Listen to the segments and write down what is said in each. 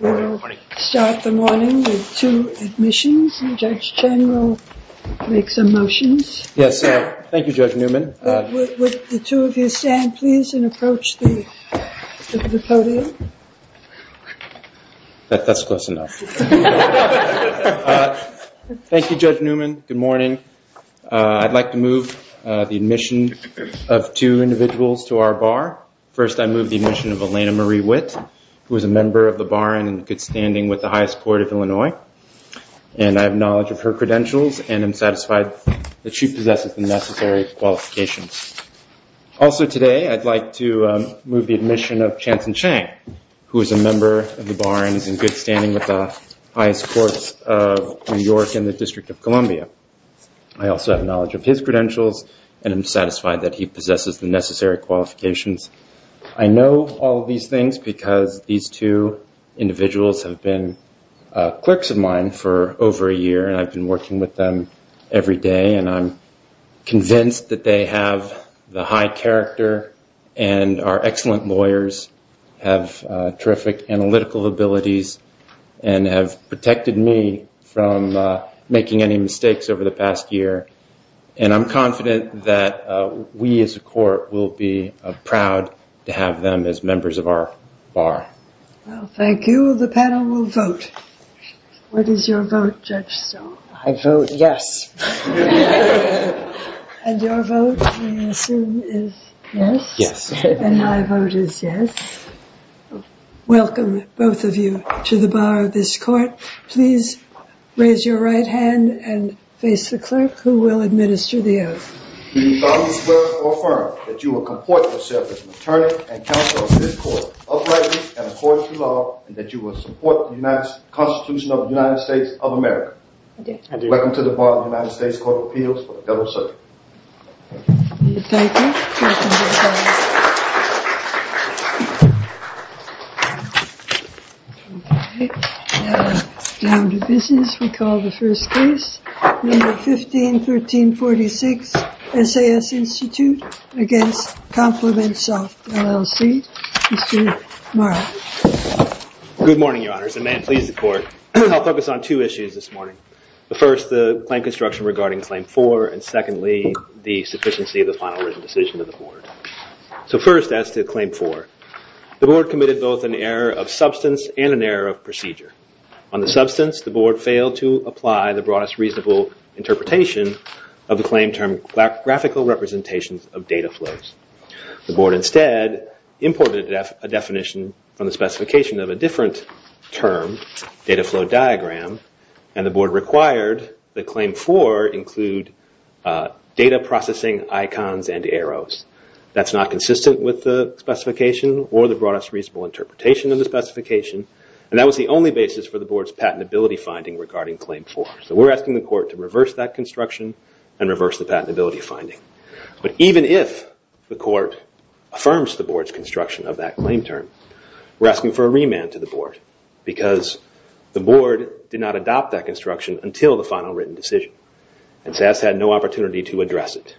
We'll start the morning with two admissions. Judge Chan will make some motions. Yes. Thank you, Judge Newman. Would the two of you stand, please, and approach the podium? That's close enough. Thank you, Judge Newman. Good morning. I'd like to move the admission of two individuals to our bar. First, I move the admission of Elena Marie Witt, who is a member of the bar and in good standing with the highest court of Illinois. And I have knowledge of her credentials and am satisfied that she possesses the necessary qualifications. Also today, I'd like to move the admission of Chanson Chang, who is a member of the bar and is in good standing with the highest courts of New York and the District of Columbia. I also have knowledge of his credentials and am satisfied that he possesses the necessary qualifications. I know all of these things because these two individuals have been clerks of mine for over a year, and I've been working with them every day. And I'm convinced that they have the high character and are excellent lawyers, have terrific analytical abilities, and have protected me from making any mistakes over the past year. And I'm confident that we as a court will be proud to have them as members of our bar. Well, thank you. The panel will vote. What is your vote, Judge Stahl? I vote yes. And your vote, we assume, is yes? Yes. And my vote is yes. Welcome, both of you, to the bar of this court. Please raise your right hand and face the clerk who will administer the oath. We solemnly swear or affirm that you will comport yourself as an attorney and counsel of this court, uprightly and according to law, and that you will support the Constitution of the United States of America. I do. I do. Welcome to the bar of the United States Court of Appeals for the federal circuit. Thank you. Welcome to the bar of the United States. Thank you. Now, down to business. We call the first case. Number 151346, SAS Institute against compliments of LLC. Mr. Marra. Good morning, Your Honors. And may it please the court, I'll focus on two issues this morning. The first, the claim construction regarding Claim 4. And secondly, the sufficiency of the final written decision of the board. So first, as to Claim 4, the board committed both an error of substance and an error of procedure. On the substance, the board failed to apply the broadest reasonable interpretation of the claim term, graphical representations of data flows. The board instead imported a definition from the specification of a different term, data flow diagram. And the board required that Claim 4 include data processing icons and arrows. That's not consistent with the specification or the broadest reasonable interpretation of the specification. And that was the only basis for the board's patentability finding regarding Claim 4. So we're asking the court to reverse that construction and reverse the patentability finding. But even if the court affirms the board's construction of that claim term, we're asking for a remand to the board. Because the board did not adopt that construction until the final written decision. And SAS had no opportunity to address it.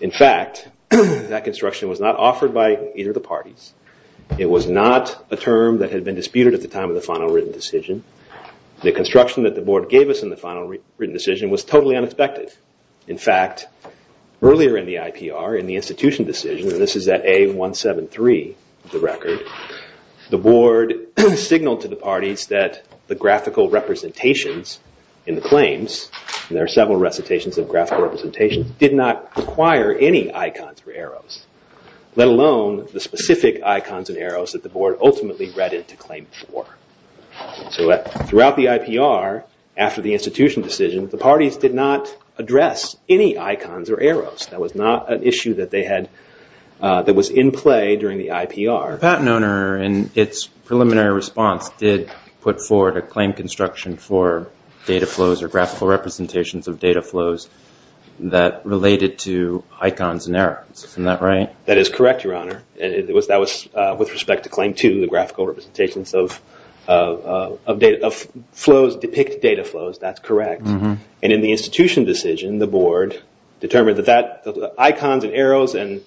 In fact, that construction was not offered by either of the parties. It was not a term that had been disputed at the time of the final written decision. The construction that the board gave us in the final written decision was totally unexpected. In fact, earlier in the IPR, in the institution decision, and this is at A173, the record, the board signaled to the parties that the graphical representations in the claims, and there are several recitations of graphical representations, did not require any icons or arrows, let alone the specific icons and arrows that the board ultimately read into Claim 4. So throughout the IPR, after the institution decision, the parties did not address any icons or arrows. That was not an issue that was in play during the IPR. The patent owner, in its preliminary response, did put forward a claim construction for data flows or graphical representations of data flows that related to icons and arrows. Isn't that right? That is correct, Your Honor. That was with respect to Claim 2, the graphical representations of flows depict data flows. That's correct. And in the institution decision, the board determined that icons and arrows and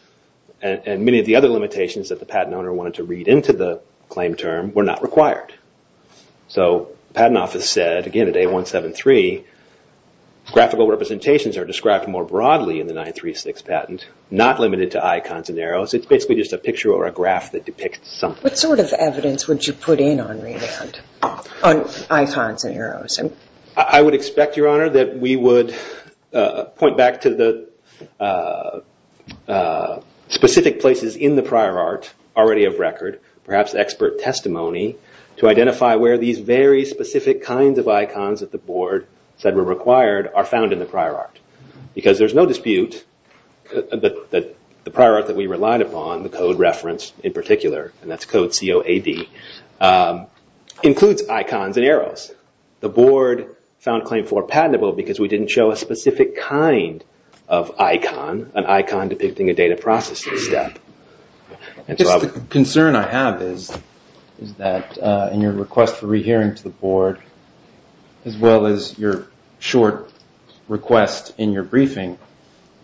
many of the other limitations that the patent owner wanted to read into the claim term were not required. So the patent office said, again, at A173, graphical representations are described more broadly in the 936 patent, not limited to icons and arrows. It's basically just a picture or a graph that depicts something. What sort of evidence would you put in on remand on icons and arrows? I would expect, Your Honor, that we would point back to the specific places in the prior art already of record, perhaps expert testimony, to identify where these very specific kinds of icons that the board said were required are found in the prior art. Because there's no dispute that the prior art that we relied upon, the code reference in particular, and that's code COAD, includes icons and arrows. The board found Claim 4 patentable because we didn't show a specific kind of icon, an icon depicting a data processing step. I guess the concern I have is that in your request for rehearing to the board, as well as your short request in your briefing,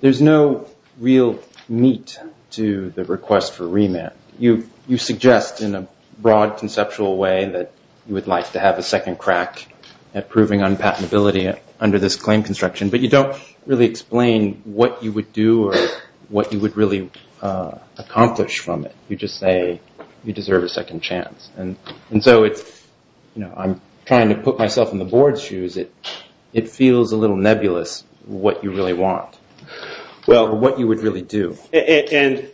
there's no real meat to the request for remand. You suggest in a broad conceptual way that you would like to have a second crack at proving unpatentability under this claim construction, but you don't really explain what you would do or what you would really accomplish from it. You just say you deserve a second chance. And so I'm trying to put myself in the board's shoes. It feels a little nebulous what you really want. Well, what you would really do. And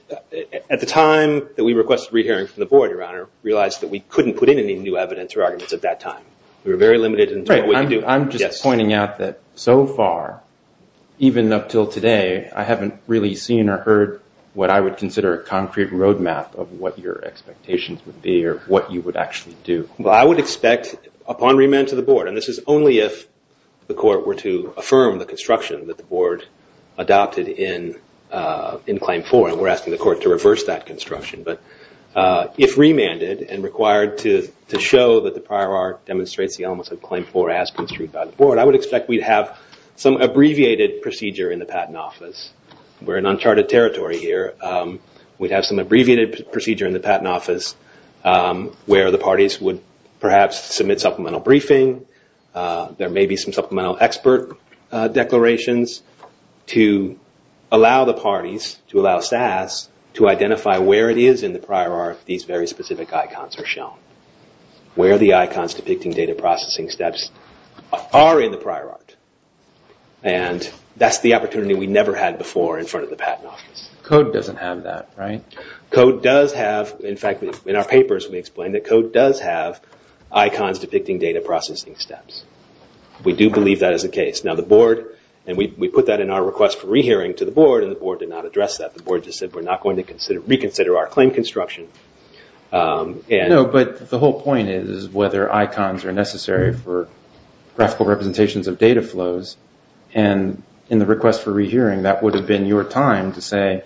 at the time that we requested rehearing from the board, your honor, realized that we couldn't put in any new evidence or arguments at that time. We were very limited in what we could do. I'm just pointing out that so far, even up till today, I haven't really seen or heard what I would consider a concrete road map of what your expectations would be or what you would actually do. Well, I would expect upon remand to the board, and this is only if the court were to affirm the construction that the board adopted in claim four, and we're asking the court to reverse that construction. But if remanded and required to show that the prior art demonstrates the elements of claim four as construed by the board, I would expect we'd have some abbreviated procedure in the patent office. We're in uncharted territory here. We'd have some abbreviated procedure in the patent office where the parties would perhaps submit supplemental briefing. There may be some supplemental expert declarations to allow the parties, to allow SAS, to identify where it is in the prior art these very specific icons are shown, where the icons depicting data processing steps are in the prior art. And that's the opportunity we never had before in front of the patent office. Code doesn't have that, right? Code does have, in fact, in our papers we explain that code does have icons depicting data processing steps. We do believe that is the case. And we put that in our request for rehearing to the board, and the board did not address that. The board just said we're not going to reconsider our claim construction. But the whole point is whether icons are necessary for graphical representations of data flows. And in the request for rehearing, that would have been your time to say,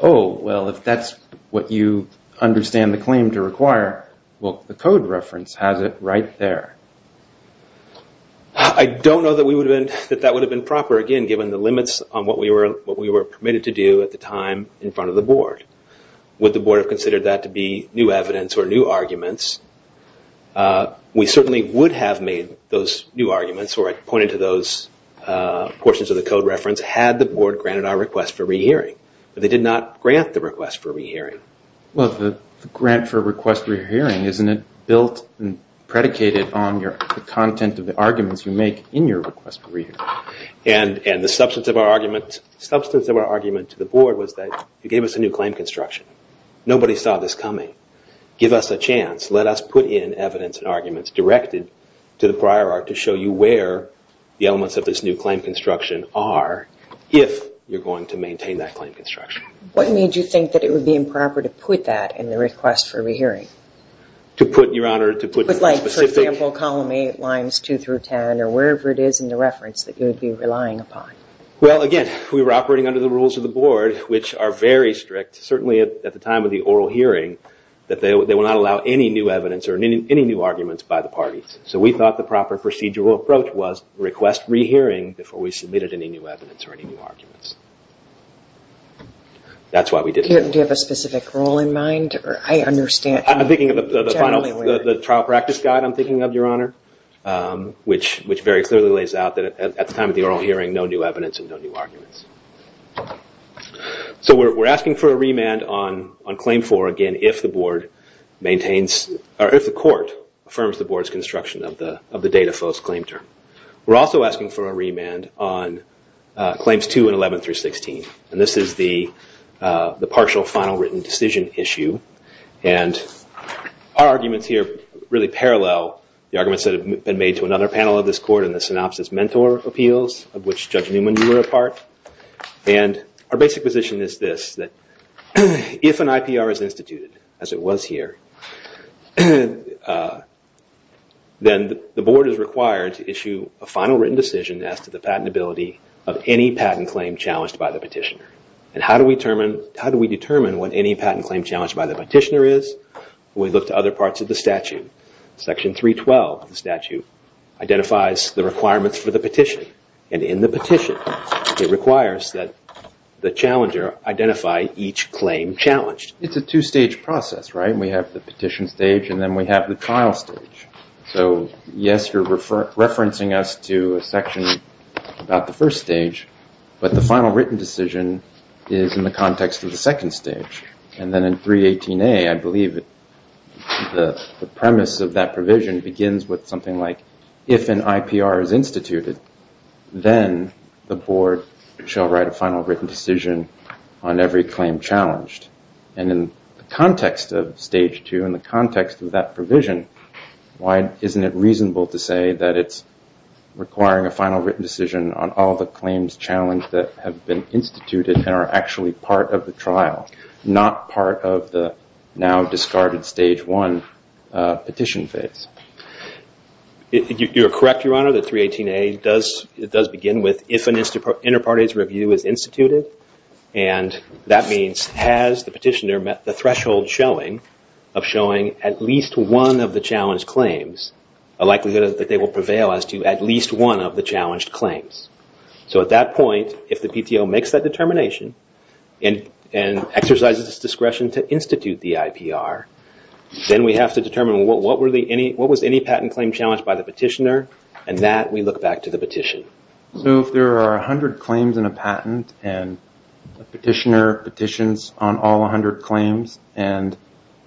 oh, well, if that's what you understand the claim to require, well, the code reference has it right there. I don't know that that would have been proper, again, given the limits on what we were permitted to do at the time in front of the board. Would the board have considered that to be new evidence or new arguments? We certainly would have made those new arguments, or pointed to those portions of the code reference, had the board granted our request for rehearing. But they did not grant the request for rehearing. Well, the grant for request for hearing, isn't it built and predicated on the content of the arguments you make in your request for rehearing? And the substance of our argument to the board was that you gave us a new claim construction. Nobody saw this coming. Give us a chance. Let us put in evidence and arguments directed to the prior art to show you where the elements of this new claim construction are if you're going to maintain that claim construction. What made you think that it would be improper to put that in the request for rehearing? To put, Your Honor, to put in the specific. Like, for example, column 8, lines 2 through 10, or wherever it is in the reference that you would be relying upon. Well, again, we were operating under the rules of the board, which are very strict, certainly at the time of the oral hearing, that they will not allow any new evidence or any new arguments by the parties. So we thought the proper procedural approach or any new arguments. That's why we did it. Do you have a specific rule in mind? I understand. I'm thinking of the trial practice guide, I'm thinking of, Your Honor, which very clearly lays out that at the time of the oral hearing, no new evidence and no new arguments. So we're asking for a remand on claim 4, again, if the board maintains, or if the court affirms the board's construction of the data false claim term. We're also asking for a remand on claims 2 and 11 through 16. And this is the partial final written decision issue. And our arguments here really parallel the arguments that have been made to another panel of this court in the synopsis mentor appeals, of which Judge Newman you were a part. And our basic position is this, that if an IPR is instituted, as it was here, then the board is required to issue a final written decision as to the patentability of any patent claim challenged by the petitioner. And how do we determine what any patent claim challenged by the petitioner is? We look to other parts of the statute. Section 312 of the statute identifies the requirements for the petition. And in the petition, it requires that the challenger identify each claim challenged. It's a two-stage process, right? We have the petition stage, and then we have the trial stage. So yes, you're referencing us to a section about the first stage. But the final written decision is in the context of the second stage. And then in 318A, I believe the premise of that provision begins with something like, if an IPR is instituted, then the board shall write a final written decision on every claim challenged. And in the context of stage two, in the context of that provision, why isn't it reasonable to say that it's requiring a final written decision on all the claims challenged that have been instituted and are actually part of the trial, not part of the now discarded stage one petition phase? You're correct, Your Honor, that 318A does begin with, if an inter partes review is instituted, and that means, has the petitioner met the threshold of showing at least one of the challenged claims, a likelihood that they will prevail as to at least one of the challenged claims. So at that point, if the PTO makes that determination and exercises its discretion to institute the IPR, then we have to determine what was any patent claim challenged by the petitioner, and that we look back to the petition. So if there are 100 claims in a patent, and the petitioner petitions on all 100 claims, and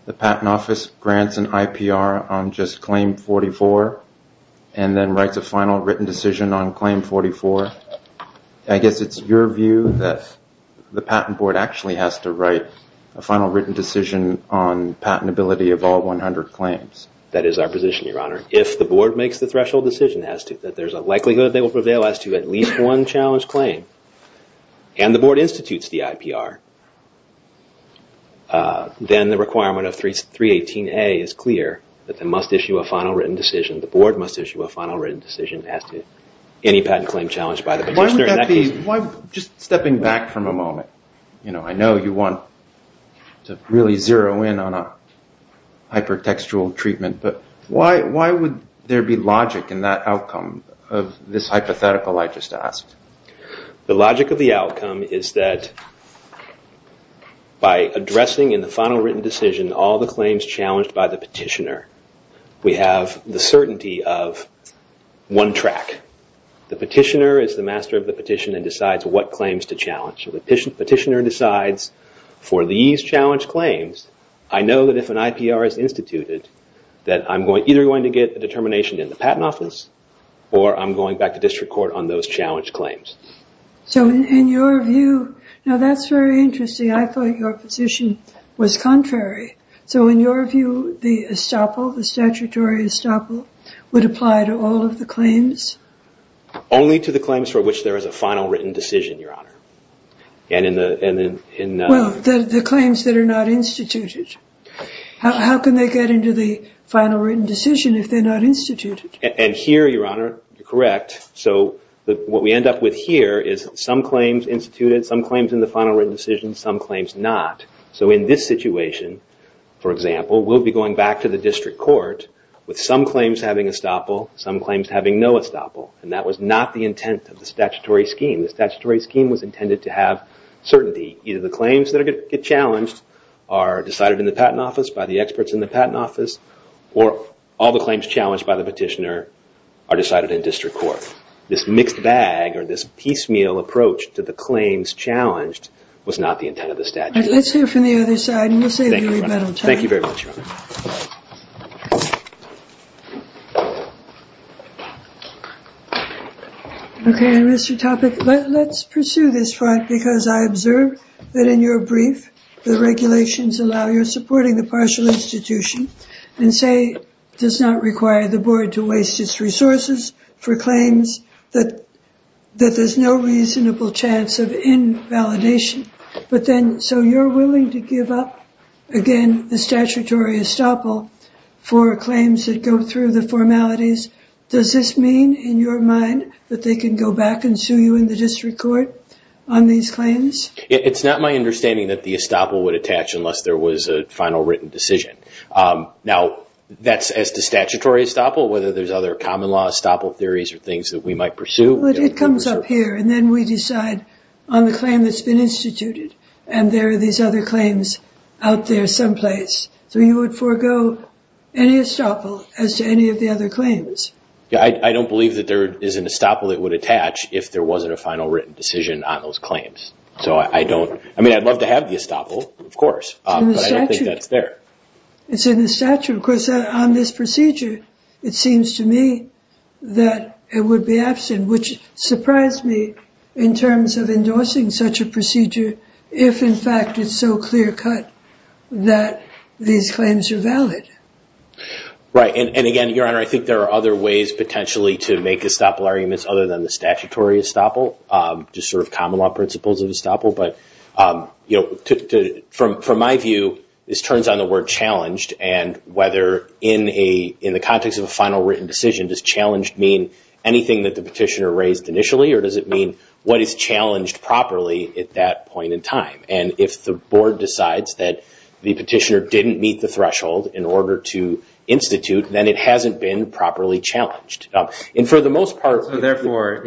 the patent office grants an IPR on just claim 44, and then writes a final written decision on claim 44, I guess it's your view that the patent board actually has to write a final written decision on patentability of all 100 claims. That is our position, Your Honor. If the board makes the threshold decision as to that there's a likelihood they will prevail as to at least one challenged claim, and the board institutes the IPR, then the requirement of 318A is clear that they must issue a final written decision. The board must issue a final written decision as to any patent claim challenged by the petitioner. Just stepping back from a moment, I know you want to really zero in on a hypertextual treatment, but why would there be logic in that outcome of this hypothetical I just asked? The logic of the outcome is that by addressing in the final written decision all the claims challenged by the petitioner, we have the certainty of one track. The petitioner is the master of the petition and decides what claims to challenge. The petitioner decides for these challenged claims, I know that if an IPR is instituted, that I'm either going to get a determination in the patent office, or I'm going back to district court on those challenged claims. So in your view, now that's very interesting. I thought your position was contrary. So in your view, the estoppel, the statutory estoppel, would apply to all of the claims? Only to the claims for which there is a final written decision, Your Honor. And in the, in the, in the. Well, the claims that are not instituted. How can they get into the final written decision if they're not instituted? And here, Your Honor, you're correct. So what we end up with here is some claims instituted, some claims in the final written decision, some claims not. So in this situation, for example, we'll be going back to the district court with some claims having estoppel, some claims having no estoppel. And that was not the intent of the statutory scheme. The statutory scheme was intended to have certainty. Either the claims that get challenged are decided in the patent office by the experts in the patent office, or all the claims challenged by the petitioner are decided in district court. This mixed bag, or this piecemeal approach to the claims challenged, was not the intent of the statute. Let's hear from the other side, and we'll save you a little time. Thank you very much, Your Honor. OK, Mr. Topic, let's pursue this front, because I observe that in your brief, the regulations allow your supporting the partial institution, and say, does not require the board to waste its resources for claims that there's no reasonable chance of invalidation. But then, so you're willing to give up, again, the statutory estoppel for claims that go through the formalities. Does this mean, in your mind, that they can go back and sue you in the district court on these claims? It's not my understanding that the estoppel would attach unless there was a final written decision. Now, as to statutory estoppel, whether there's other common law estoppel theories, or things that we might pursue. It comes up here, and then we decide on the claim that's been instituted, and there are these other claims out there someplace. So you would forego any estoppel as to any of the other claims. I don't believe that there is an estoppel that would attach if there wasn't a final written decision on those claims. So I don't, I mean, I'd love to have the estoppel, of course. It's in the statute. But I don't think that's there. It's in the statute. Of course, on this procedure, it seems to me that it would be absent, which surprised me in terms of endorsing such a procedure, if, in fact, it's so clear cut that these claims are valid. Right. And again, Your Honor, I think there are other ways, potentially, to make estoppel arguments other than the statutory estoppel, just sort of common law principles of estoppel. But from my view, this turns on the word challenged. And whether in the context of a final written decision, does challenged mean anything that the petitioner raised initially? Or does it mean what is challenged properly at that point in time? And if the board decides that the petitioner didn't meet the threshold in order to institute, then it hasn't been properly challenged. And for the most part, therefore,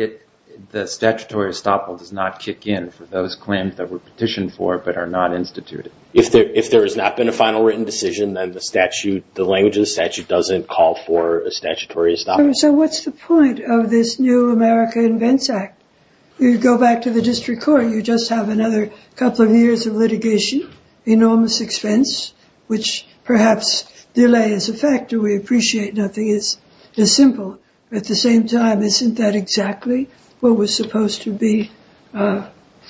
the statutory estoppel does not kick in for those claims that were petitioned for but are not instituted. If there has not been a final written decision, then the language of the statute doesn't call for a statutory estoppel. So what's the point of this new America Invents Act? You go back to the district court, you just have another couple of years of litigation, enormous expense, which perhaps delay is a factor. We appreciate nothing is this simple. At the same time, isn't that exactly what was supposed to be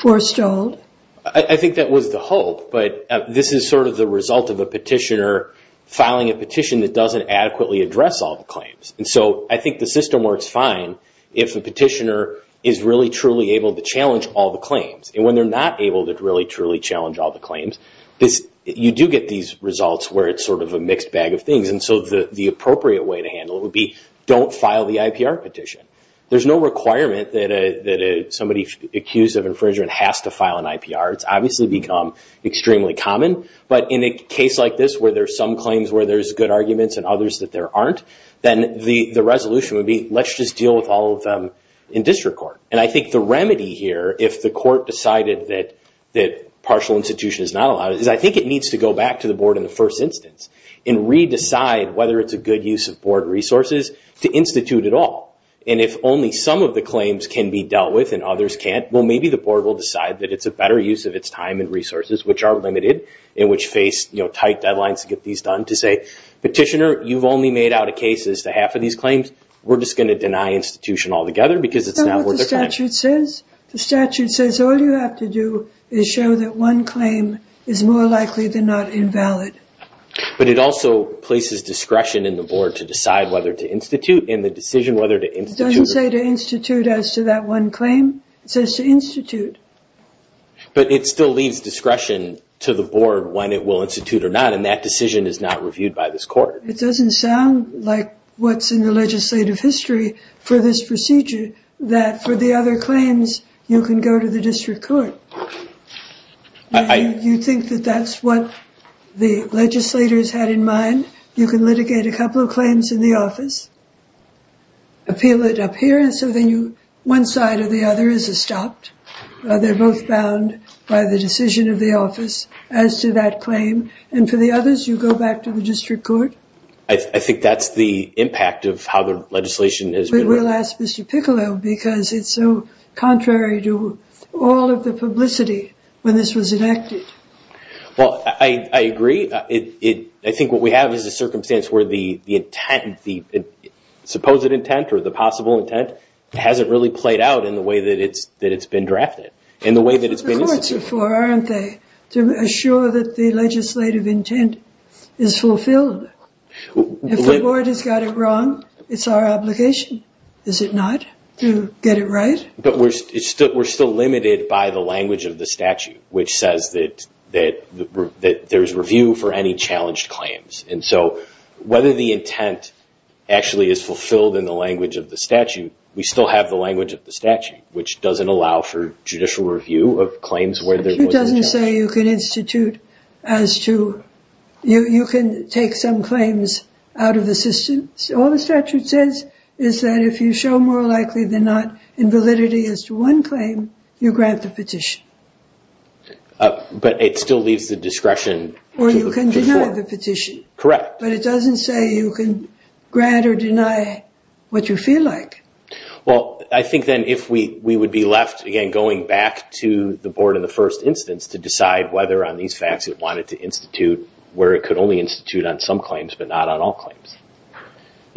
forestalled? I think that was the hope. But this is sort of the result of a petitioner filing a petition that doesn't adequately address all the claims. And so I think the system works fine if the petitioner is really truly able to challenge all the claims. And when they're not able to really truly challenge all the claims, you do get these results where it's sort of a mixed bag of things. And so the appropriate way to handle it would be don't file the IPR petition. There's no requirement that somebody accused of infringement has to file an IPR. It's obviously become extremely common. But in a case like this where there's some claims where there's good arguments and others that there aren't, then the resolution would be let's just deal with all of them in district court. And I think the remedy here, if the court decided that partial institution is not allowed, is I think it needs to go back to the board in the first instance and re-decide whether it's a good use of board resources to institute it all. And if only some of the claims can be dealt with and others can't, well, maybe the board will decide that it's a better use of its time and resources, which are limited, and which face tight deadlines to get these done, to say, petitioner, you've only made out of cases to half of these claims. We're just going to deny institution altogether because it's not worth a claim. That's what the statute says. The statute says all you have to do is show that one claim is more likely than not invalid. But it also places discretion in the board to decide whether to institute, and the decision whether to institute. It doesn't say to institute as to that one claim. It says to institute. But it still leaves discretion to the board when it will institute or not, and that decision is not reviewed by this court. It doesn't sound like what's in the legislative history for this procedure, that for the other claims, you can go to the district court. Do you think that that's what the legislators had in mind? You can litigate a couple of claims in the office, appeal it up here, and so then one side or the other is stopped. They're both bound by the decision of the office as to that claim. And for the others, you go back to the district court. I think that's the impact of how the legislation has been written. But we'll ask Mr. Piccolo, because it's publicity when this was enacted. Well, I agree. I think what we have is a circumstance where the supposed intent or the possible intent hasn't really played out in the way that it's been drafted, in the way that it's been instituted. The courts are for, aren't they, to assure that the legislative intent is fulfilled. If the board has got it wrong, it's our obligation, is it not, to get it right? But we're still limited by the language of the statute, which says that there's review for any challenged claims. And so whether the intent actually is fulfilled in the language of the statute, we still have the language of the statute, which doesn't allow for judicial review of claims where there was an attempt. It doesn't say you can institute as to, you can take some claims out of the system. All the statute says is that if you show more likely than not in validity as to one claim, you grant the petition. But it still leaves the discretion to look before. Or you can deny the petition. Correct. But it doesn't say you can grant or deny what you feel like. Well, I think then if we would be left, again, going back to the board in the first instance to decide whether on these facts it wanted to institute, where it could only institute on some claims but not on all claims.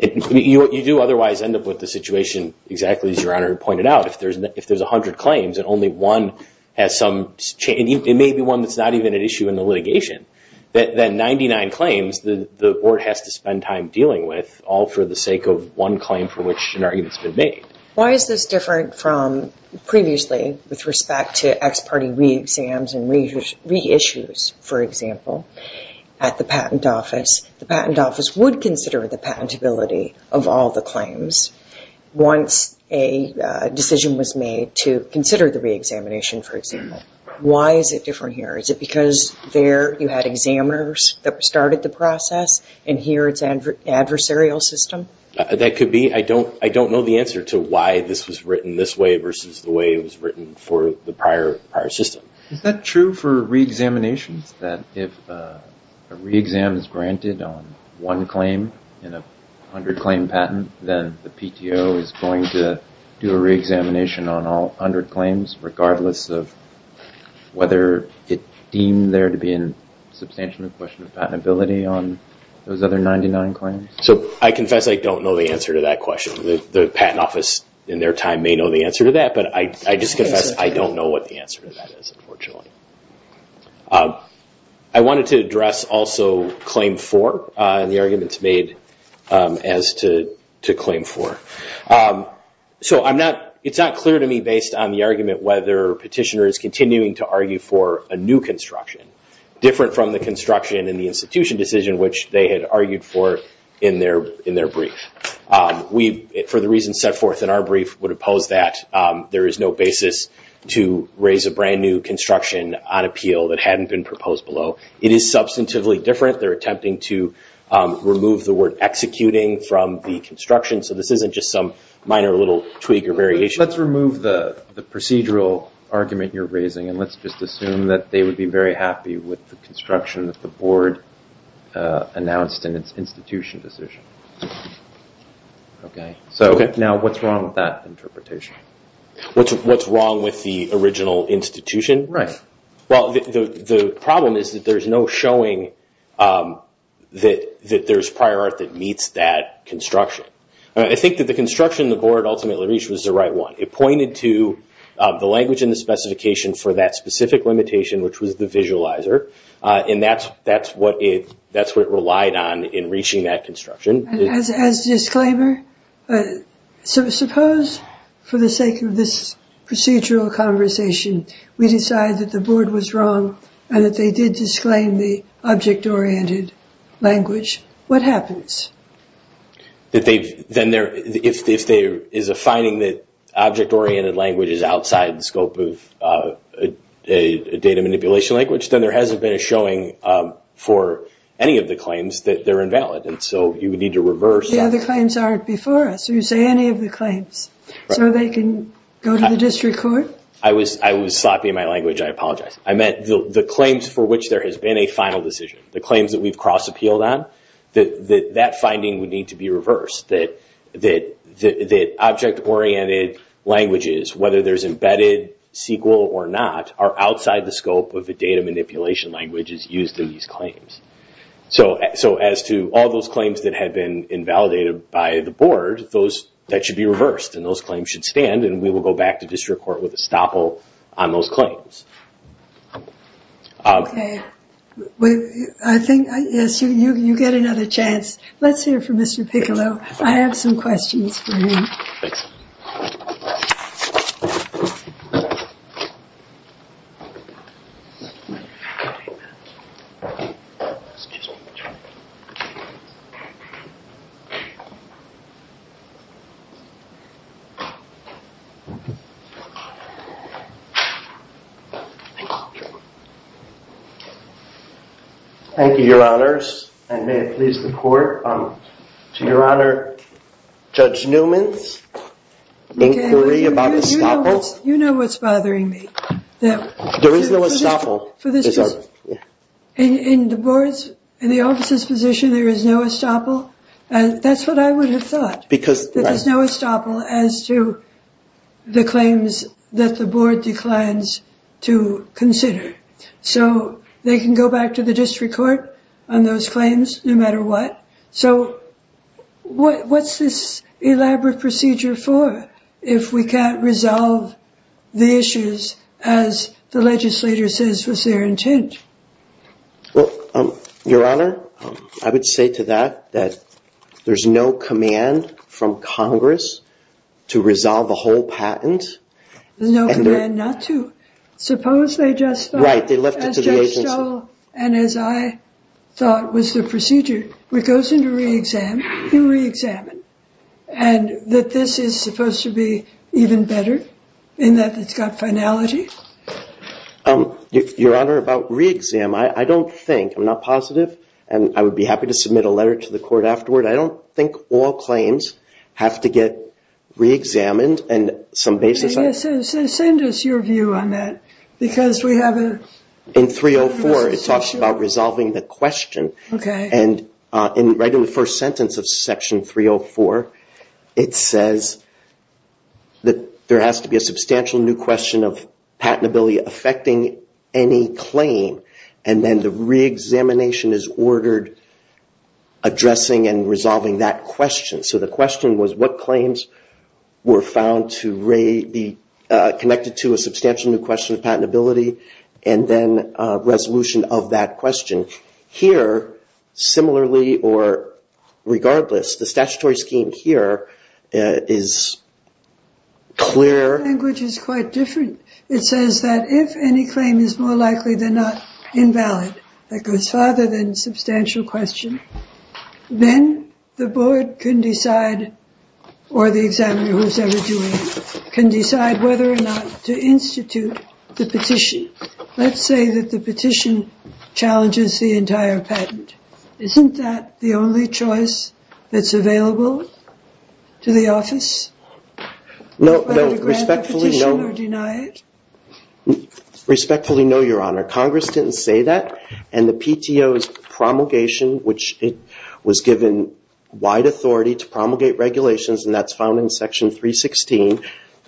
You do otherwise end up with the situation exactly as Your Honor had pointed out. If there's 100 claims and only one has some change, it may be one that's not even at issue in the litigation. Then 99 claims, the board has to spend time dealing with all for the sake of one claim for which an argument's been made. Why is this different from previously with respect to ex parte re-exams and re-issues, for example, at the patent office? The patent office would consider the patentability of all the claims. Once a decision was made to consider the re-examination, for example, why is it different here? Is it because there you had examiners that started the process, and here it's adversarial system? That could be. I don't know the answer to why this was written this way versus the way it was written for the prior system. Is that true for re-examinations, that if a re-exam is granted on one claim in a 100 claim patent, then the PTO is going to do a re-examination on all 100 claims, regardless of whether it deemed there to be a substantial question of patentability on those other 99 claims? So I confess I don't know the answer to that question. The patent office in their time may know the answer to that, but I just confess I don't know what the answer to that is, unfortunately. I wanted to address also claim four and the arguments made as to claim four. So it's not clear to me based on the argument whether petitioners continuing to argue for a new construction, different from the construction in the institution decision which they had argued for in their brief. For the reasons set forth in our brief would oppose that. There is no basis to raise a brand new construction on appeal that hadn't been proposed below. It is substantively different. They're attempting to remove the word executing from the construction. So this isn't just some minor little tweak or variation. Let's remove the procedural argument you're raising, and let's just assume that they would be very happy with the construction that the board announced in its institution decision. So now what's wrong with that interpretation? What's wrong with the original institution? Well, the problem is that there's no showing that there's prior art that meets that construction. I think that the construction the board ultimately reached was the right one. It pointed to the language in the specification for that specific limitation, which was the visualizer. And that's what it relied on in reaching that construction. As a disclaimer, suppose for the sake of this procedural conversation, we decide that the board was wrong and that they did disclaim the object-oriented language. What happens? If there is a finding that object-oriented language is outside the scope of a data manipulation language, then there hasn't been a showing for any of the claims that they're invalid. And so you would need to reverse. Yeah, the claims aren't before us. You say any of the claims so they can go to the district court. I was sloppy in my language. I apologize. I meant the claims for which there has been a final decision, the claims that we've cross-appealed on, that that finding would need to be reversed, that object-oriented languages, whether there's embedded SQL or not, are outside the scope of the data manipulation languages used in these claims. So as to all those claims that had been invalidated by the board, that should be reversed. And those claims should stand. And we will go back to district court with a stopple on those claims. OK. I think, yes, you get another chance. Let's hear from Mr. Piccolo. I have some questions for him. Thanks. Thank you. Thank you, Your Honors. And may it please the court, to Your Honor, Judge Newman's inquiry about the stopple. You know what's bothering me. There is no stopple. For this case, in the board's, in the office's position, there is no stopple? That's what I would have thought. There is no stopple as to the claims that the board declines to consider. So they can go back to the district court on those claims no matter what. So what's this elaborate procedure for if we can't resolve the issues as the legislator says was their intent? Well, Your Honor, I would say to that that there's no command from Congress to resolve the whole patent. There's no command not to. Suppose they just thought, as Judge Stoll and as I thought was the procedure, which goes into re-exam, you re-examine. And that this is supposed to be even better, in that it's got finality? Your Honor, about re-exam, I don't think, I'm not positive, and I would be happy to submit a letter to the court afterward. I don't think all claims have to get re-examined. And some basis on it. Send us your view on that. Because we haven't. In 304, it talks about resolving the question. And right in the first sentence of section 304, it says that there has to be a substantial new question of patentability affecting any claim. And then the re-examination is ordered addressing and resolving that question. So the question was, what claims were found to be connected to a substantial new question of patentability? And then resolution of that question. Here, similarly or regardless, the statutory scheme here is clear. The language is quite different. It says that if any claim is more likely than not invalid, that goes farther than substantial question, then the board can decide, or the examiner who's ever doing it, can decide whether or not to institute the petition. Let's say that the petition challenges the entire patent. Isn't that the only choice that's available to the office? No. But do we grant the petition or deny it? Respectfully, no, Your Honor. Congress didn't say that. And the PTO's promulgation, which it was given wide authority to promulgate regulations, and that's found in section 316.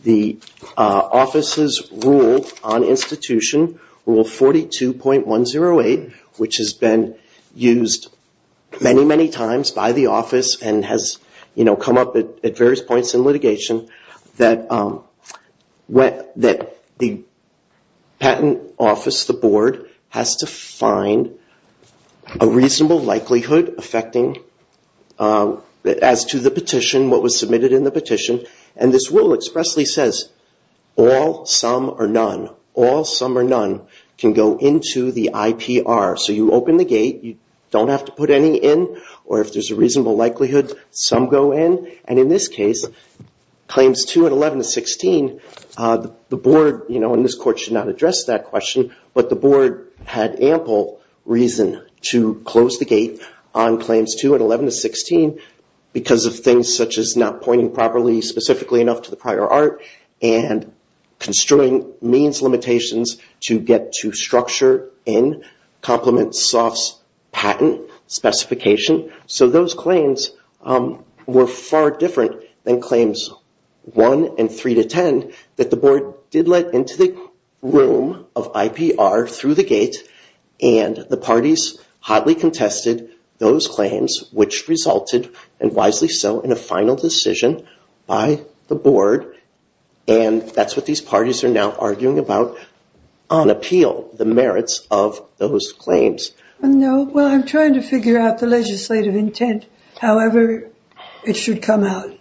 The office's rule on institution, rule 42.108, which has been used many, many times by the office and has come up at various points in litigation, that the patent office, the board, has to find a reasonable likelihood affecting as to the petition, what was submitted in the petition. And this rule expressly says, all, some, or none. All, some, or none can go into the IPR. So you open the gate. You don't have to put any in. Or if there's a reasonable likelihood, some go in. And in this case, claims 2 and 11 to 16, the board, and this court should not address that question, but the board had ample reason to close the gate on claims 2 and 11 to 16 because of things such as not pointing properly specifically enough to the prior art and construing means limitations to get to structure in complement softs patent specification. So those claims were far different than claims 1 and 3 to 10 that the board did let into the room of IPR through the gate. And the parties hotly contested those claims, which resulted, and wisely so, in a final decision by the board. And that's what these parties are now on appeal, the merits of those claims. No. Well, I'm trying to figure out the legislative intent, however it should come out.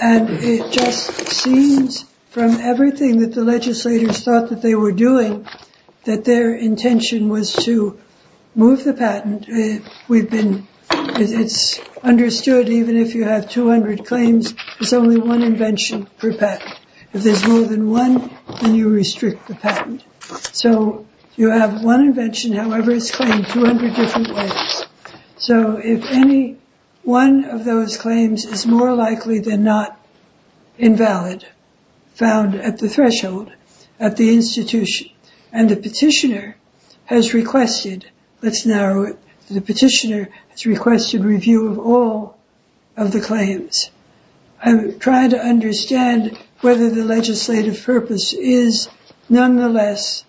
And it just seems, from everything that the legislators thought that they were doing, that their intention was to move the patent. We've been, it's understood, even if you have 200 claims, it's only one invention per patent. If there's more than one, then you restrict the patent. So you have one invention, however it's claimed 200 different ways. So if any one of those claims is more likely than not invalid, found at the threshold at the institution. And the petitioner has requested, let's narrow it, the petitioner has requested review of all of the claims. I'm trying to understand whether the legislative purpose is, nonetheless,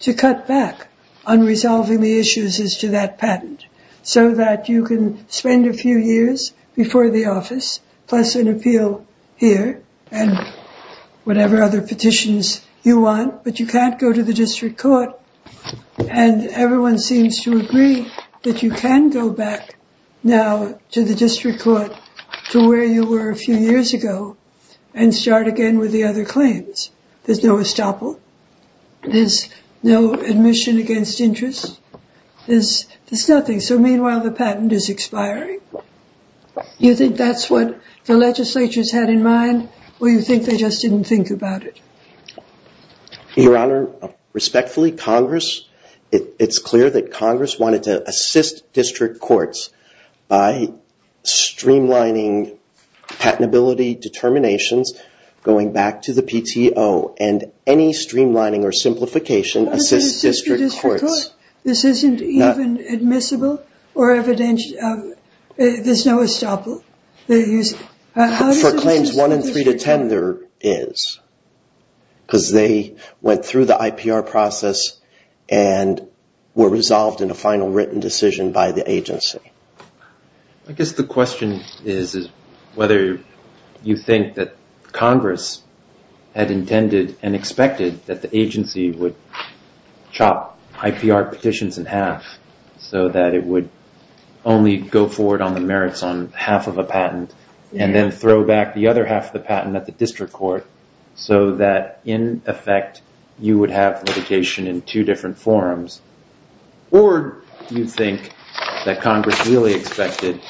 to cut back on resolving the issues as to that patent. So that you can spend a few years before the office, plus an appeal here, and whatever other petitions you want, but you can't go to the district court. And everyone seems to agree that you can go back now to the district court to where you were a few years ago, and start again with the other claims. There's no estoppel. There's no admission against interest. There's nothing. So meanwhile, the patent is expiring. You think that's what the legislature's had in mind, or you think they just didn't think about it? Your Honor, respectfully, Congress, it's clear that Congress wanted to assist district courts by streamlining patentability determinations, going back to the PTO. And any streamlining or simplification assists district courts. This isn't even admissible or evidential. There's no estoppel. For claims 1 and 3 to 10, there is. Because they went through the IPR process and were resolved in a final written decision by the agency. I guess the question is whether you think that Congress had intended and expected that the agency would chop IPR petitions in half so that it would only go forward on the merits on half of a patent, and then throw back the other half of the patent at the district court so that, in effect, you would have litigation in two different forums. Or do you think that Congress really expected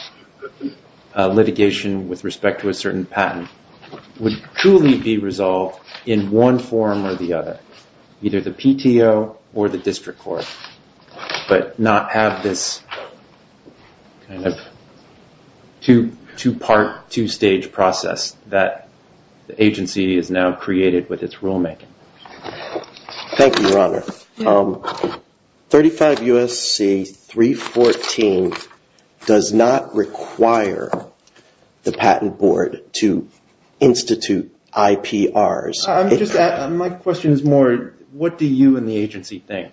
litigation with respect to a certain patent would truly be resolved in one form or the other, either the PTO or the district court, but not have this two-part, two-stage process that the agency has now created with its rulemaking? Thank you, Your Honor. 35 U.S.C. 314 does not require the Patent Board to institute IPRs. My question is more, what do you and the agency think?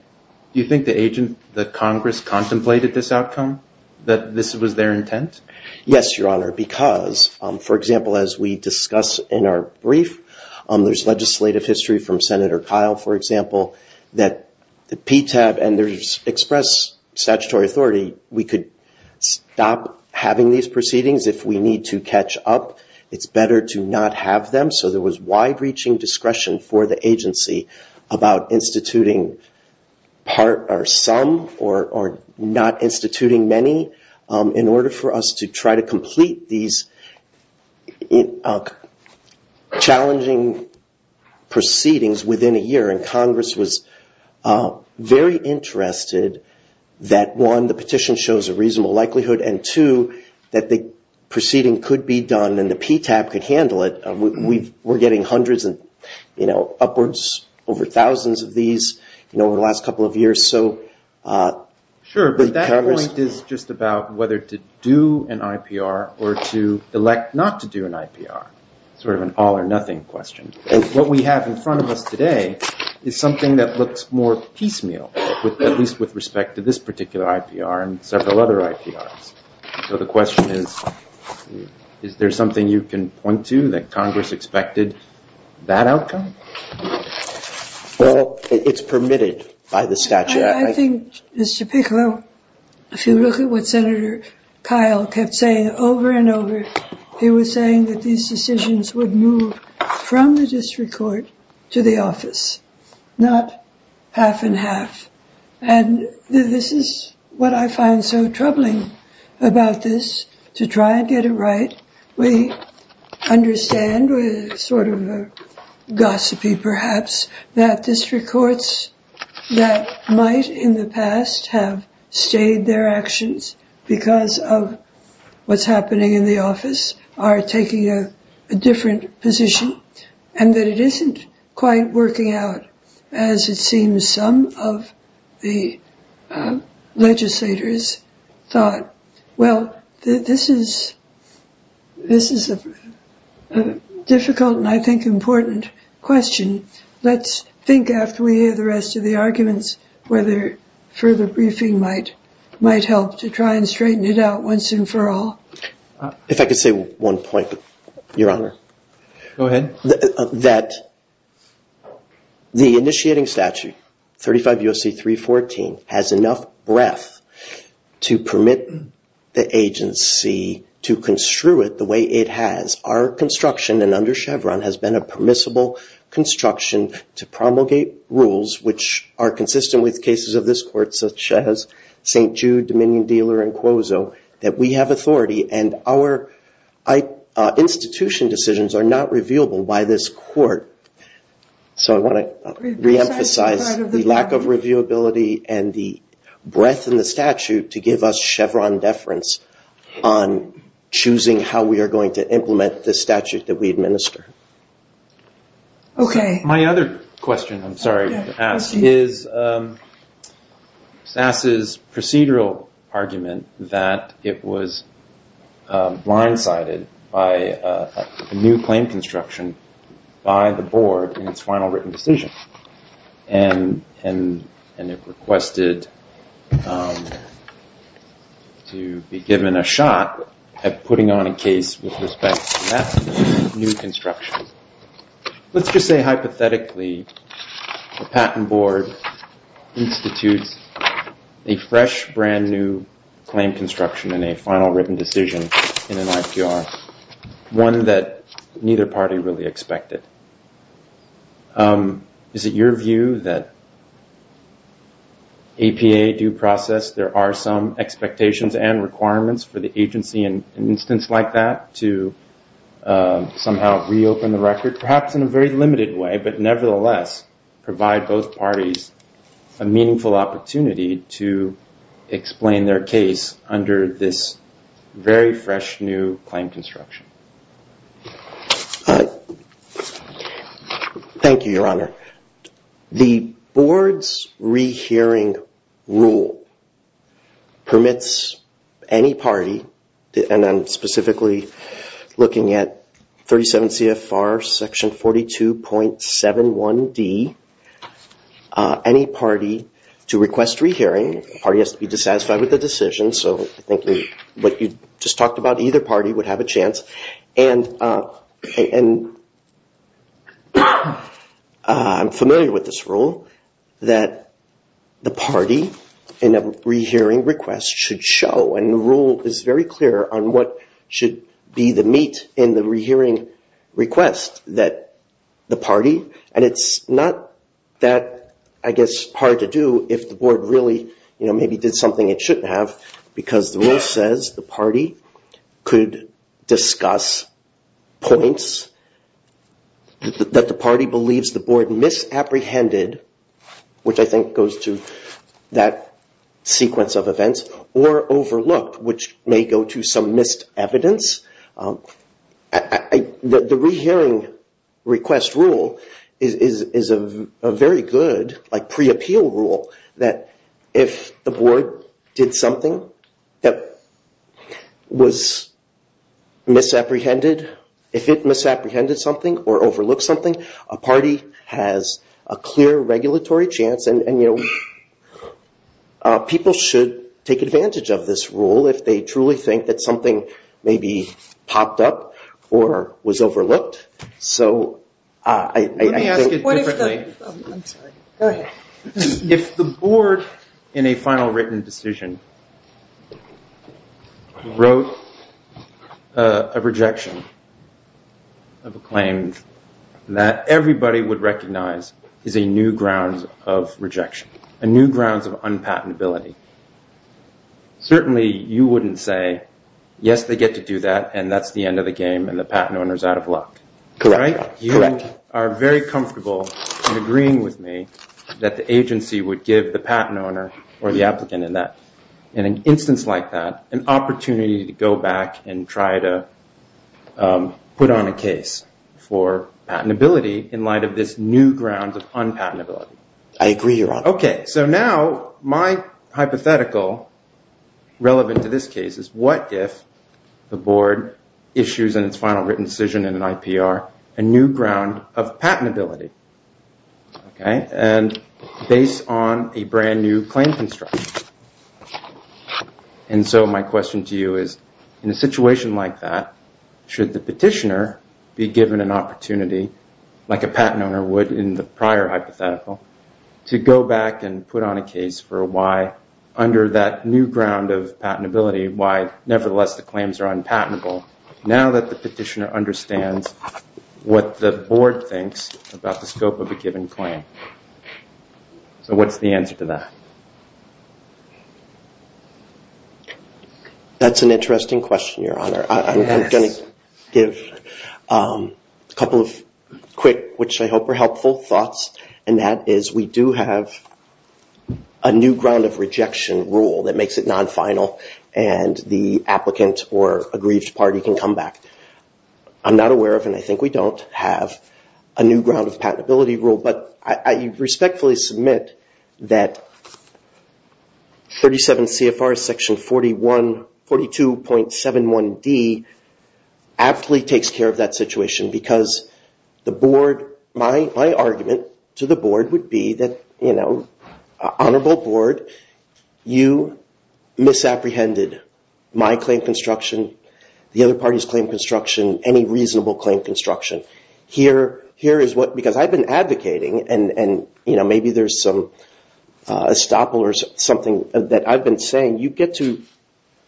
Do you think the Congress contemplated this outcome, that this was their intent? Yes, Your Honor, because, for example, as we discuss in our brief, there's legislative history from Senator Kyle, for example, that the PTAB and there's express statutory authority. We could stop having these proceedings if we need to catch up. It's better to not have them. So there was wide-reaching discretion for the agency about instituting part or some, or not instituting many, in order for us to try to complete these challenging proceedings within a year. And Congress was very interested that, one, the petition shows a reasonable likelihood, and two, that the proceeding could be done and the PTAB could handle it. We're getting hundreds and upwards over thousands of these over the last couple of years. Sure, but that point is just about whether to do an IPR or to elect not to do an IPR, sort of an all or nothing question. What we have in front of us today is something that looks more piecemeal, at least with respect to this particular IPR and several other IPRs. So the question is, is there something you can point to that Congress expected that outcome? Well, it's permitted by the statute. I think, Mr. Piccolo, if you look at what Senator Kyle kept saying over and over, he was saying that these decisions would move from the district court to the office, not half and half. And this is what I find so troubling about this. To try and get it right, we understand, with sort of a gossipy perhaps, that district courts that might in the past have stayed their actions because of what's happening in the office are taking a different position. And that it isn't quite working out, as it seems some of the legislators thought. Well, this is a difficult and, I think, important question. Let's think after we hear the rest of the arguments whether further briefing might help to try and straighten it out once and for all. If I could say one point, Your Honor. Go ahead. That the initiating statute, 35 U.S.C. 314, has enough breadth to permit the agency to construe it the way it has. Our construction, and under Chevron, has been a permissible construction to promulgate rules which are consistent with cases of this court, such as St. Jude, Dominion Dealer, and Quozo, that we have authority. And our institution decisions are not revealable by this court. So I want to reemphasize the lack of reviewability and the breadth in the statute to give us Chevron deference on choosing how we are going to implement the statute that we administer. OK. My other question, I'm sorry to ask, is SAS's procedural argument that it was blindsided by a new claim construction by the board in its final written decision, and it requested to be given a shot at putting on a case with respect to that new construction. Let's just say, hypothetically, the patent board institutes a fresh, brand new claim construction in a final written decision in an IPR, one that neither party really expected. Is it your view that APA due process, there are some expectations and requirements for the agency in an instance like that to somehow reopen the record? Perhaps in a very limited way, but nevertheless, provide both parties a meaningful opportunity to explain their case under this very fresh new claim construction? Thank you, Your Honor. The board's rehearing rule permits any party, and I'm specifically looking at 37 CFR section 42.71d, any party to request rehearing. The party has to be dissatisfied with the decision, so I think what you just talked about, either party would have a chance. And I'm familiar with this rule, that the party in a rehearing request should show, and the rule is very clear on what should be the meat in the rehearing request, that the party. And it's not that, I guess, hard to do if the board really maybe did something it shouldn't have, because the rule says the party could discuss points that the party believes the board misapprehended, which I think goes to that sequence of events, or overlooked, which may go to some missed evidence. The rehearing request rule is a very good pre-appeal rule, that if the board did something that was misapprehended, if it misapprehended something, or overlooked something, a party has a clear regulatory chance. And people should take advantage of this rule if they truly think that something maybe popped up or was overlooked. So I think- Let me ask it differently. I'm sorry. Go ahead. If the board, in a final written decision, wrote a rejection of a claim that everybody would recognize is a new ground of rejection, a new grounds of unpatentability, certainly you wouldn't say, yes, they get to do that, and that's the end of the game, and the patent owner's out of luck, right? You are very comfortable in agreeing with me that the agency would give the patent owner or the applicant in an instance like that an opportunity to go back and try to put on a case for patentability in light of this new ground of unpatentability. I agree, Your Honor. So now my hypothetical, relevant to this case, is what if the board issues in its final written decision in an IPR a new ground of patentability? Based on a brand new claim construction. And so my question to you is, in a situation like that, should the petitioner be given an opportunity, like a patent owner would in the prior hypothetical, to go back and put on a case for why, under that new ground of patentability, why nevertheless the claims are unpatentable, now that the petitioner understands what the board thinks about the scope of a given claim? So what's the answer to that? That's an interesting question, Your Honor. I'm going to give a couple of quick, which I hope are helpful, thoughts. And that is, we do have a new ground of rejection rule that makes it non-final, and the applicant or aggrieved party can come back. I'm not aware of, and I think we don't have, a new ground of patentability rule. But I respectfully submit that 37 CFR section 42.71d aptly takes care of that situation. Because my argument to the board would be that, honorable board, you misapprehended my claim construction, the other party's claim construction, any reasonable claim construction. Here is what, because I've been advocating, and maybe there's some estoppel or something that I've been saying, you get to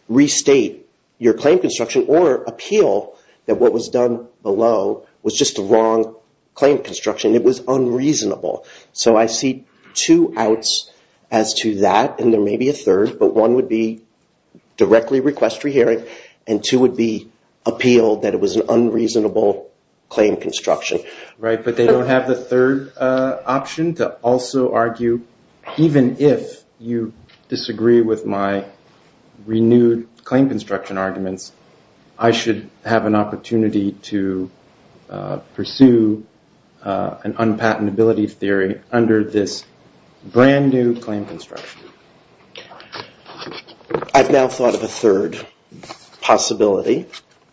restate your claim construction or appeal that what was done below was just the wrong claim construction. It was unreasonable. So I see two outs as to that, and there may be a third. But one would be directly request re-hearing, and two would be appeal that it was an unreasonable claim construction. Right, but they don't have the third option to also argue, even if you disagree with my renewed claim construction arguments, I should have an opportunity to pursue an unpatentability theory under this brand new claim construction. I've now thought of a third possibility,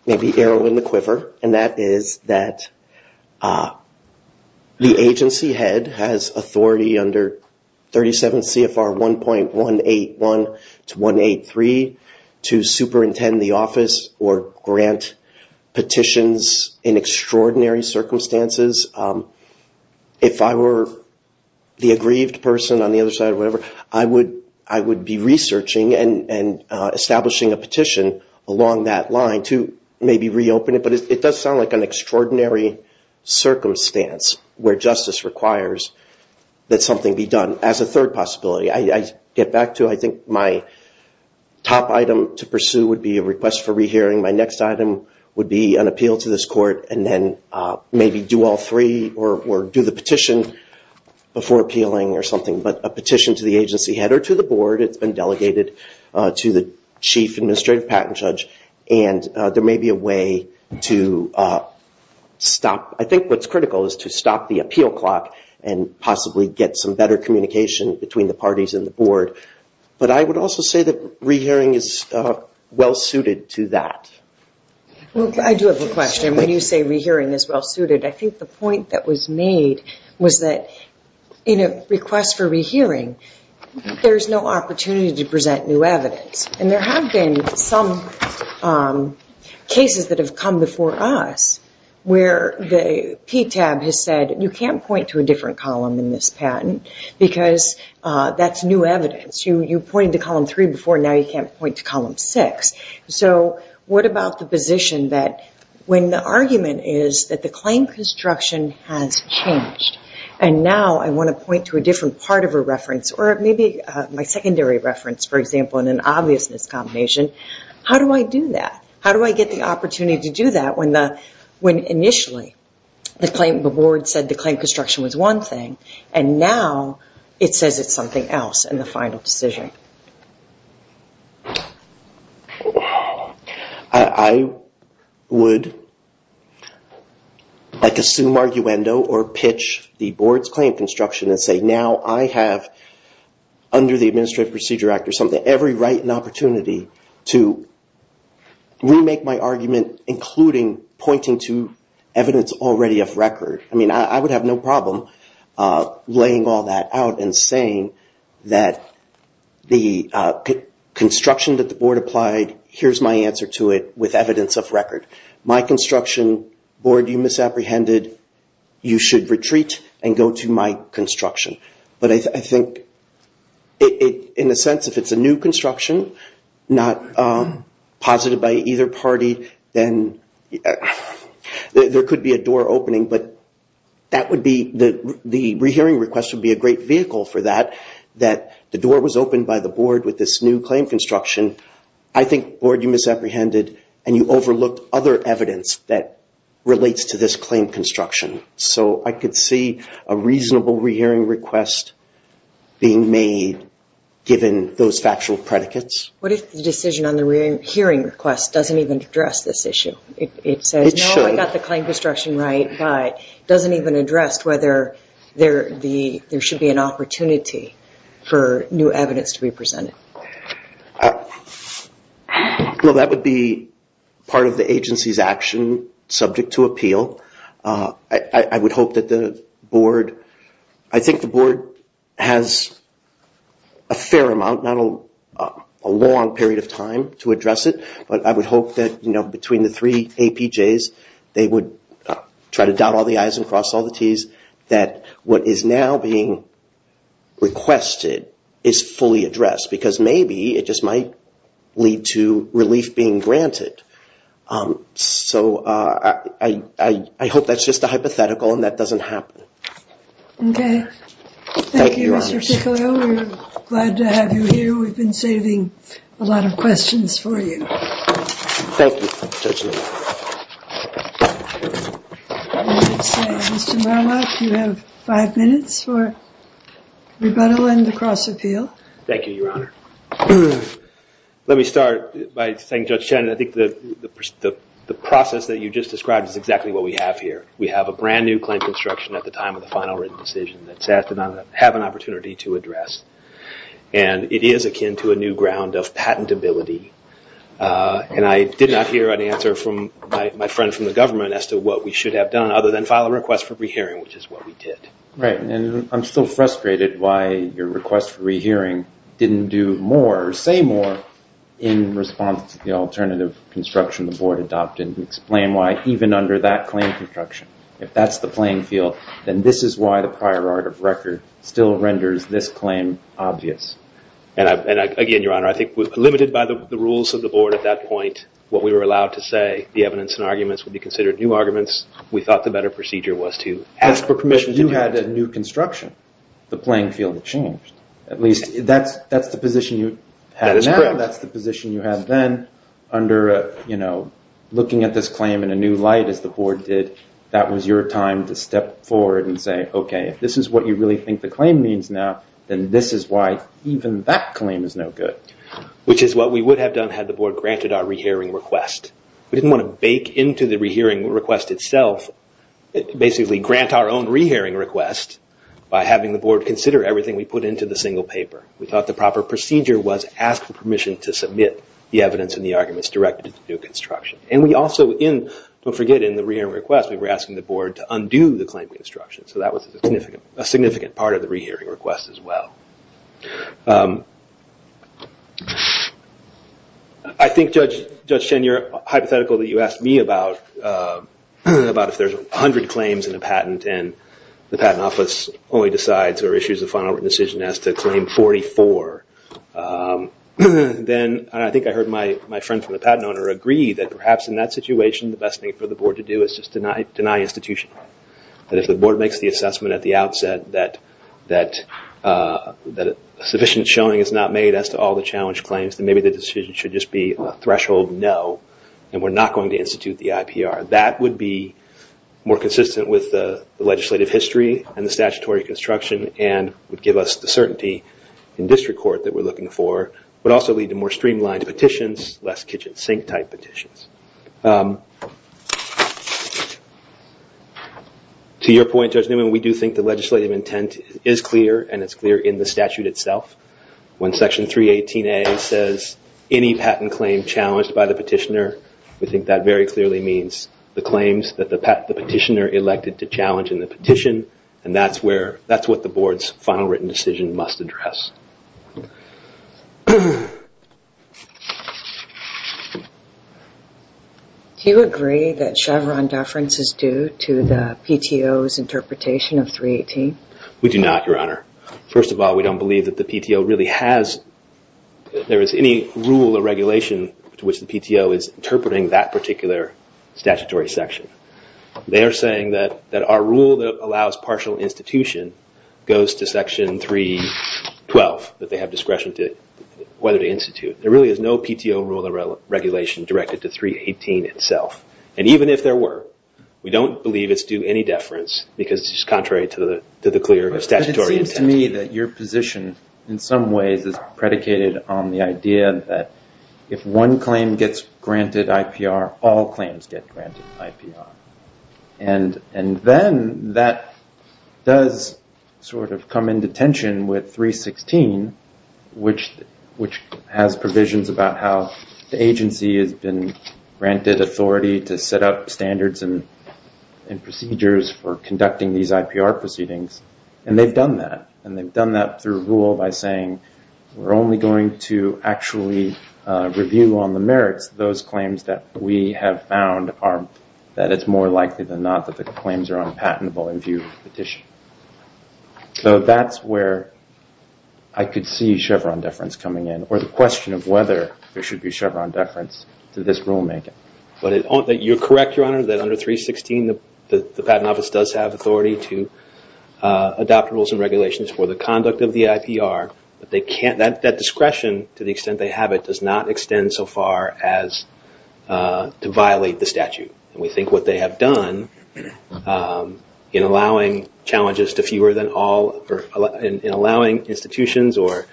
maybe arrow in the quiver, and that is that the agency head has authority under 37 CFR 1.181 to 183 to superintend the office or grant petitions in extraordinary circumstances. If I were the aggrieved person on the other side or whatever, I would be researching and establishing a petition along that line to maybe reopen it. But it does sound like an extraordinary circumstance where justice requires that something be done as a third possibility. I get back to, I think my top item to pursue would be a request for re-hearing. My next item would be an appeal to this court, and then maybe do all three or do the petition before appealing or something. But a petition to the agency head or to the board. It's been delegated to the chief administrative patent judge. And there may be a way to stop. I think what's critical is to stop the appeal clock and possibly get some better communication between the parties and the board. But I would also say that re-hearing is well-suited to that. I do have a question. When you say re-hearing is well-suited, I think the point that was made was that in a request for re-hearing, there's no opportunity to present new evidence. And there have been some cases that have come before us where the PTAB has said, you can't point to a different column in this patent because that's new evidence. You pointed to column three before. Now you can't point to column six. So what about the position that when the argument is that the claim construction has changed, and now I want to point to a different part of a reference, or maybe my secondary reference, for example, in an obviousness combination, how do I do that? How do I get the opportunity to do that when initially the board said the claim construction was one thing, and now it says it's something else in the final decision? I would assume arguendo or pitch the board's claim construction and say, now I have, under the Administrative Procedure Act or something, every right and opportunity to remake my argument, including pointing to evidence already of record. I mean, I would have no problem laying all that out and saying that the board's claim construction the construction that the board applied, here's my answer to it with evidence of record. My construction, board, you misapprehended. You should retreat and go to my construction. But I think, in a sense, if it's a new construction, not posited by either party, then there could be a door opening. But the rehearing request would be a great vehicle for that, that the door was opened by the board with this new claim construction. I think, board, you misapprehended, and you overlooked other evidence that relates to this claim construction. So I could see a reasonable rehearing request being made, given those factual predicates. What if the decision on the hearing request doesn't even address this issue? It says, no, I got the claim construction right, but it doesn't even address whether there should be an opportunity for new evidence to be presented. Well, that would be part of the agency's action, subject to appeal. I would hope that the board, I think the board has a fair amount, not a long period of time, to address it. But I would hope that, between the three APJs, they would try to dot all the I's and cross all the T's, that what is now being requested is fully addressed. Because maybe it just might lead to relief being granted. So I hope that's just a hypothetical, and that doesn't happen. OK. Thank you, Mr. Ticcolo. We're glad to have you here. We've been saving a lot of questions for you. Thank you, Judge Lillard. I would say, Mr. Murlock, you have five minutes for rebuttal and the cross-appeal. Thank you, Your Honor. Let me start by saying, Judge Shannon, I think that the process that you just described is exactly what we have here. We have a brand new claim construction at the time of the final written decision that SAS did not have an opportunity to address. And it is akin to a new ground of patentability. And I did not hear an answer from my friend from the government as to what we should have done, other than file a request for rehearing, which is what we did. Right. And I'm still frustrated why your request for rehearing didn't do more, or say more, in response to the alternative construction the board adopted, and explain why even under that claim construction, if that's the playing field, then this is why the prior art of record still renders this claim obvious. And again, Your Honor, I think we're limited by the rules of the board at that point. What we were allowed to say, the evidence and arguments, would be considered new arguments. We thought the better procedure was to ask for permission to do that. You had a new construction. The playing field changed. At least, that's the position you had now. That's the position you had then. Under looking at this claim in a new light, as the board did, that was your time to step forward and say, OK, if this is what you really think the claim means now, then this is why even that claim is no good. Which is what we would have done had the board granted our re-hearing request. We didn't want to bake into the re-hearing request itself, basically grant our own re-hearing request by having the board consider everything we put into the single paper. We thought the proper procedure was ask for permission to submit the evidence and the arguments directed to the new construction. And we also, don't forget, in the re-hearing request, we were asking the board to undo the claim construction. So that was a significant part of the re-hearing request as well. I think, Judge Chen, you're hypothetical that you asked me about if there's 100 claims in a patent and the patent office only decides or issues a final written decision as to claim 44. Then I think I heard my friend from the patent owner agree that perhaps in that situation, the best thing for the board to do is just deny institution. That if the board makes the assessment at the outset that sufficient showing is not made as to all the challenge claims, then maybe the decision should just be a threshold no, and we're not going to institute the IPR. That would be more consistent with the legislative history and the statutory construction, and would give us the certainty in district court that we're looking for, but also lead to more streamlined petitions, less kitchen sink type petitions. To your point, Judge Newman, we do think the legislative intent is clear, and it's clear in the statute itself. When section 318A says, any patent claim challenged by the petitioner, we think that very clearly means the claims that the petitioner elected to challenge in the petition, and that's what the board's final written decision must address. Do you agree that Chevron deference is due to the PTO's interpretation of 318? We do not, Your Honor. First of all, we don't believe that the PTO really has, there is any rule or regulation to which the PTO is interpreting that particular statutory section. They are saying that our rule that allows partial institution goes to section 312, that they have discretion to whether to institute. There really is no PTO rule or regulation directed to 318 itself. And even if there were, we don't believe it's due any deference, because it's contrary to the clear statutory intent. But it seems to me that your position, in some ways, is predicated on the idea that if one claim gets granted IPR, all claims get granted IPR. And then that does sort of come into tension with 316, which has provisions about how the agency has been granted authority to set up standards and procedures for conducting these IPR proceedings. And they've done that. And they've done that through rule by saying, we're only going to actually review on the merits those claims that we have found that it's more likely than not that the claims are unpatentable in view of the petition. So that's where I could see Chevron deference coming in, or the question of whether there should be Chevron deference to this rulemaking. You're correct, Your Honor, that under 316, the patent office does have authority to adopt rules and regulations for the conduct of the IPR. But that discretion, to the extent they have it, does not extend so far as to violate the statute. And we think what they have done in allowing institutions or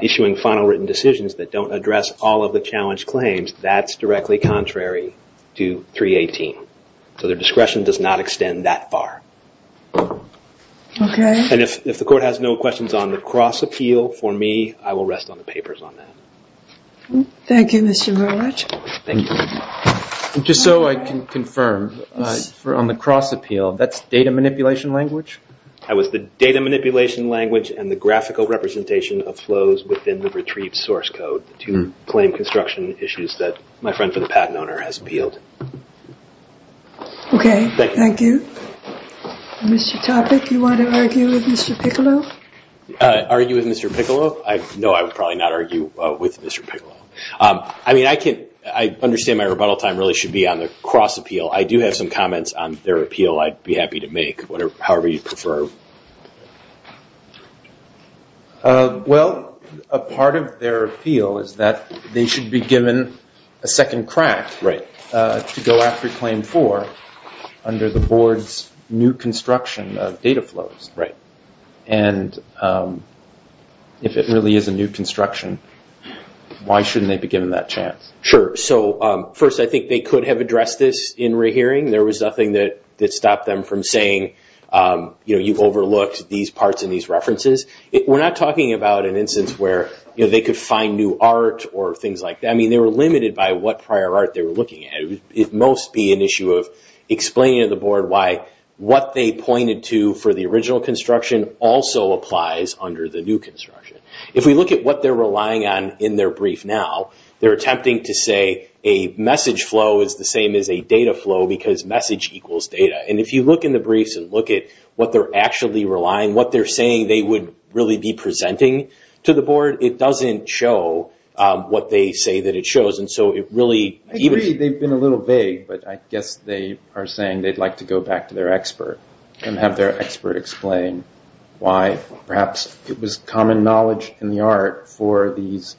issuing final written decisions that don't address all of the challenged claims, that's directly contrary to 318. So their discretion does not extend that far. OK. And if the court has no questions on the cross appeal for me, I will rest on the papers on that. Thank you, Mr. Verlich. Thank you. Just so I can confirm, on the cross appeal, that's data manipulation language? That was the data manipulation language and the graphical representation of flows within the retrieved source code to claim construction issues that my friend for the patent owner has appealed? OK, thank you. Mr. Topic, you want to argue with Mr. Piccolo? Argue with Mr. Piccolo? No, I would probably not argue with Mr. Piccolo. I mean, I understand my rebuttal time really should be on the cross appeal. I do have some comments on their appeal. I'd be happy to make, however you prefer. Well, a part of their appeal is that they should be given a second crack to go after claim four under the board's new construction of data flows. And if it really is a new construction, why shouldn't they be given that chance? Sure. So first, I think they could have addressed this in rehearing. There was nothing that stopped them from saying you've overlooked these parts in these references. We're not talking about an instance where they could find new art or things like that. I mean, they were limited by what prior art they were looking at. It must be an issue of explaining to the board why what they pointed to for the original construction also applies under the new construction. If we look at what they're relying on in their brief now, they're attempting to say a message flow is the same as a data flow because message equals data. And if you look in the briefs and look at what they're actually relying, what they're saying they would really be presenting to the board, it doesn't show what they say that it shows. And so it really evens out. I agree they've been a little vague, but I guess they are saying they'd like to go back to their expert and have their expert explain why perhaps it was common knowledge in the art for these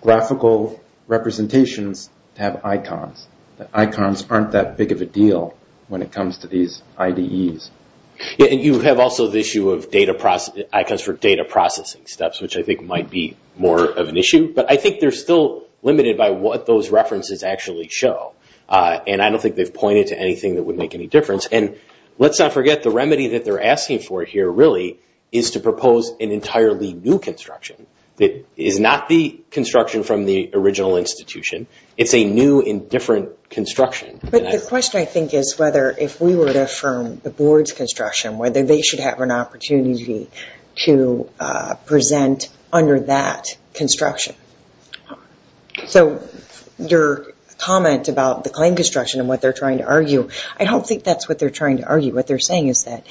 graphical representations to have icons, that icons aren't that big of a deal when it comes to these IDEs. And you have also the issue of icons for data processing steps, which I think might be more of an issue. But I think they're still limited by what those references actually show. And I don't think they've pointed to anything that would make any difference. And let's not forget, the remedy that they're asking for here really is to propose an entirely new construction that is not the construction from the original institution. It's a new and different construction. But the question, I think, is whether if we were to affirm the board's construction, whether they should have an opportunity to present under that construction. So your comment about the claim construction and what they're trying to argue, I don't think that's what they're trying to argue. What they're saying is that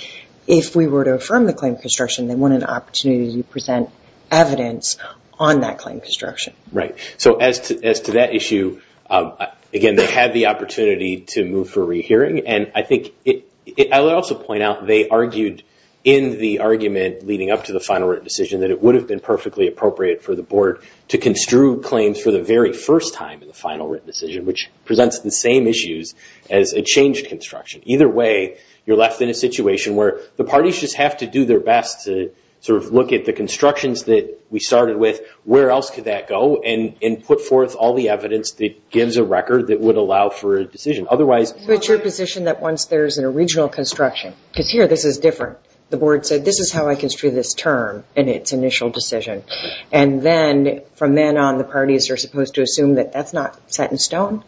if we were to affirm the claim construction, they want an opportunity to present evidence on that claim construction. Right. So as to that issue, again, they had the opportunity to move for a re-hearing. And I think I would also point out they argued in the argument leading up to the final written decision that it would have been perfectly appropriate for the board to construe claims for the very first time in the final written decision, which presents the same issues as a changed construction. Either way, you're left in a situation where the parties just have to do their best to look at the constructions that we started with. Where else could that go? And put forth all the evidence that gives a record that would allow for a decision. But you're positioned that once there's an original construction, because here this is different, the board said, this is how I construe this term in its initial decision. And then from then on, the parties are supposed to assume that that's not set in stone.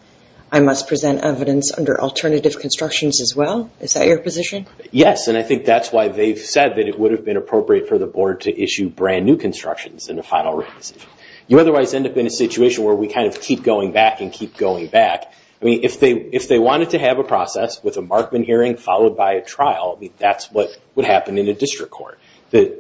I must present evidence under alternative constructions as well. Is that your position? Yes, and I think that's why they've said that it would have been appropriate for the board to issue brand new constructions in the final written decision. You otherwise end up in a situation where we kind of keep going back and keep going back. If they wanted to have a process with a Markman hearing followed by a trial, that's what would happen in a district court.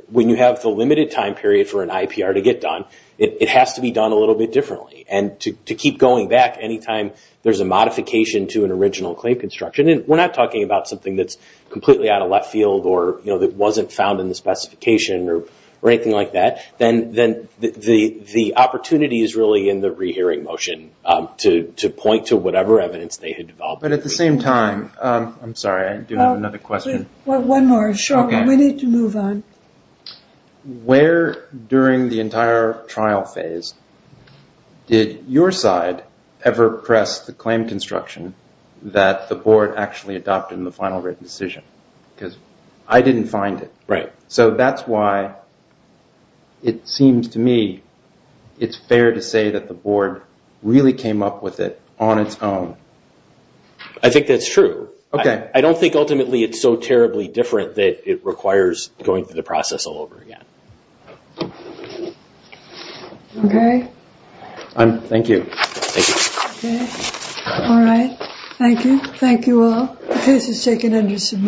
When you have the limited time period for an IPR to get done, it has to be done a little bit differently. And to keep going back any time there's a modification to an original claim construction, and we're not talking about something that's completely out of left field, or that wasn't found in the specification, or anything like that, then the opportunity is really in the rehearing motion to point to whatever evidence they had developed. But at the same time, I'm sorry, I do have another question. Well, one more. Sure. We need to move on. Where during the entire trial phase did your side ever press the claim construction that the board actually adopted in the final written decision? Because I didn't find it. Right. So that's why it seems to me it's really came up with it on its own. I think that's true. OK. I don't think ultimately it's so terribly different that it requires going through the process all over again. OK. Thank you. Thank you. All right. Thank you. Thank you all. The case is taken under submission.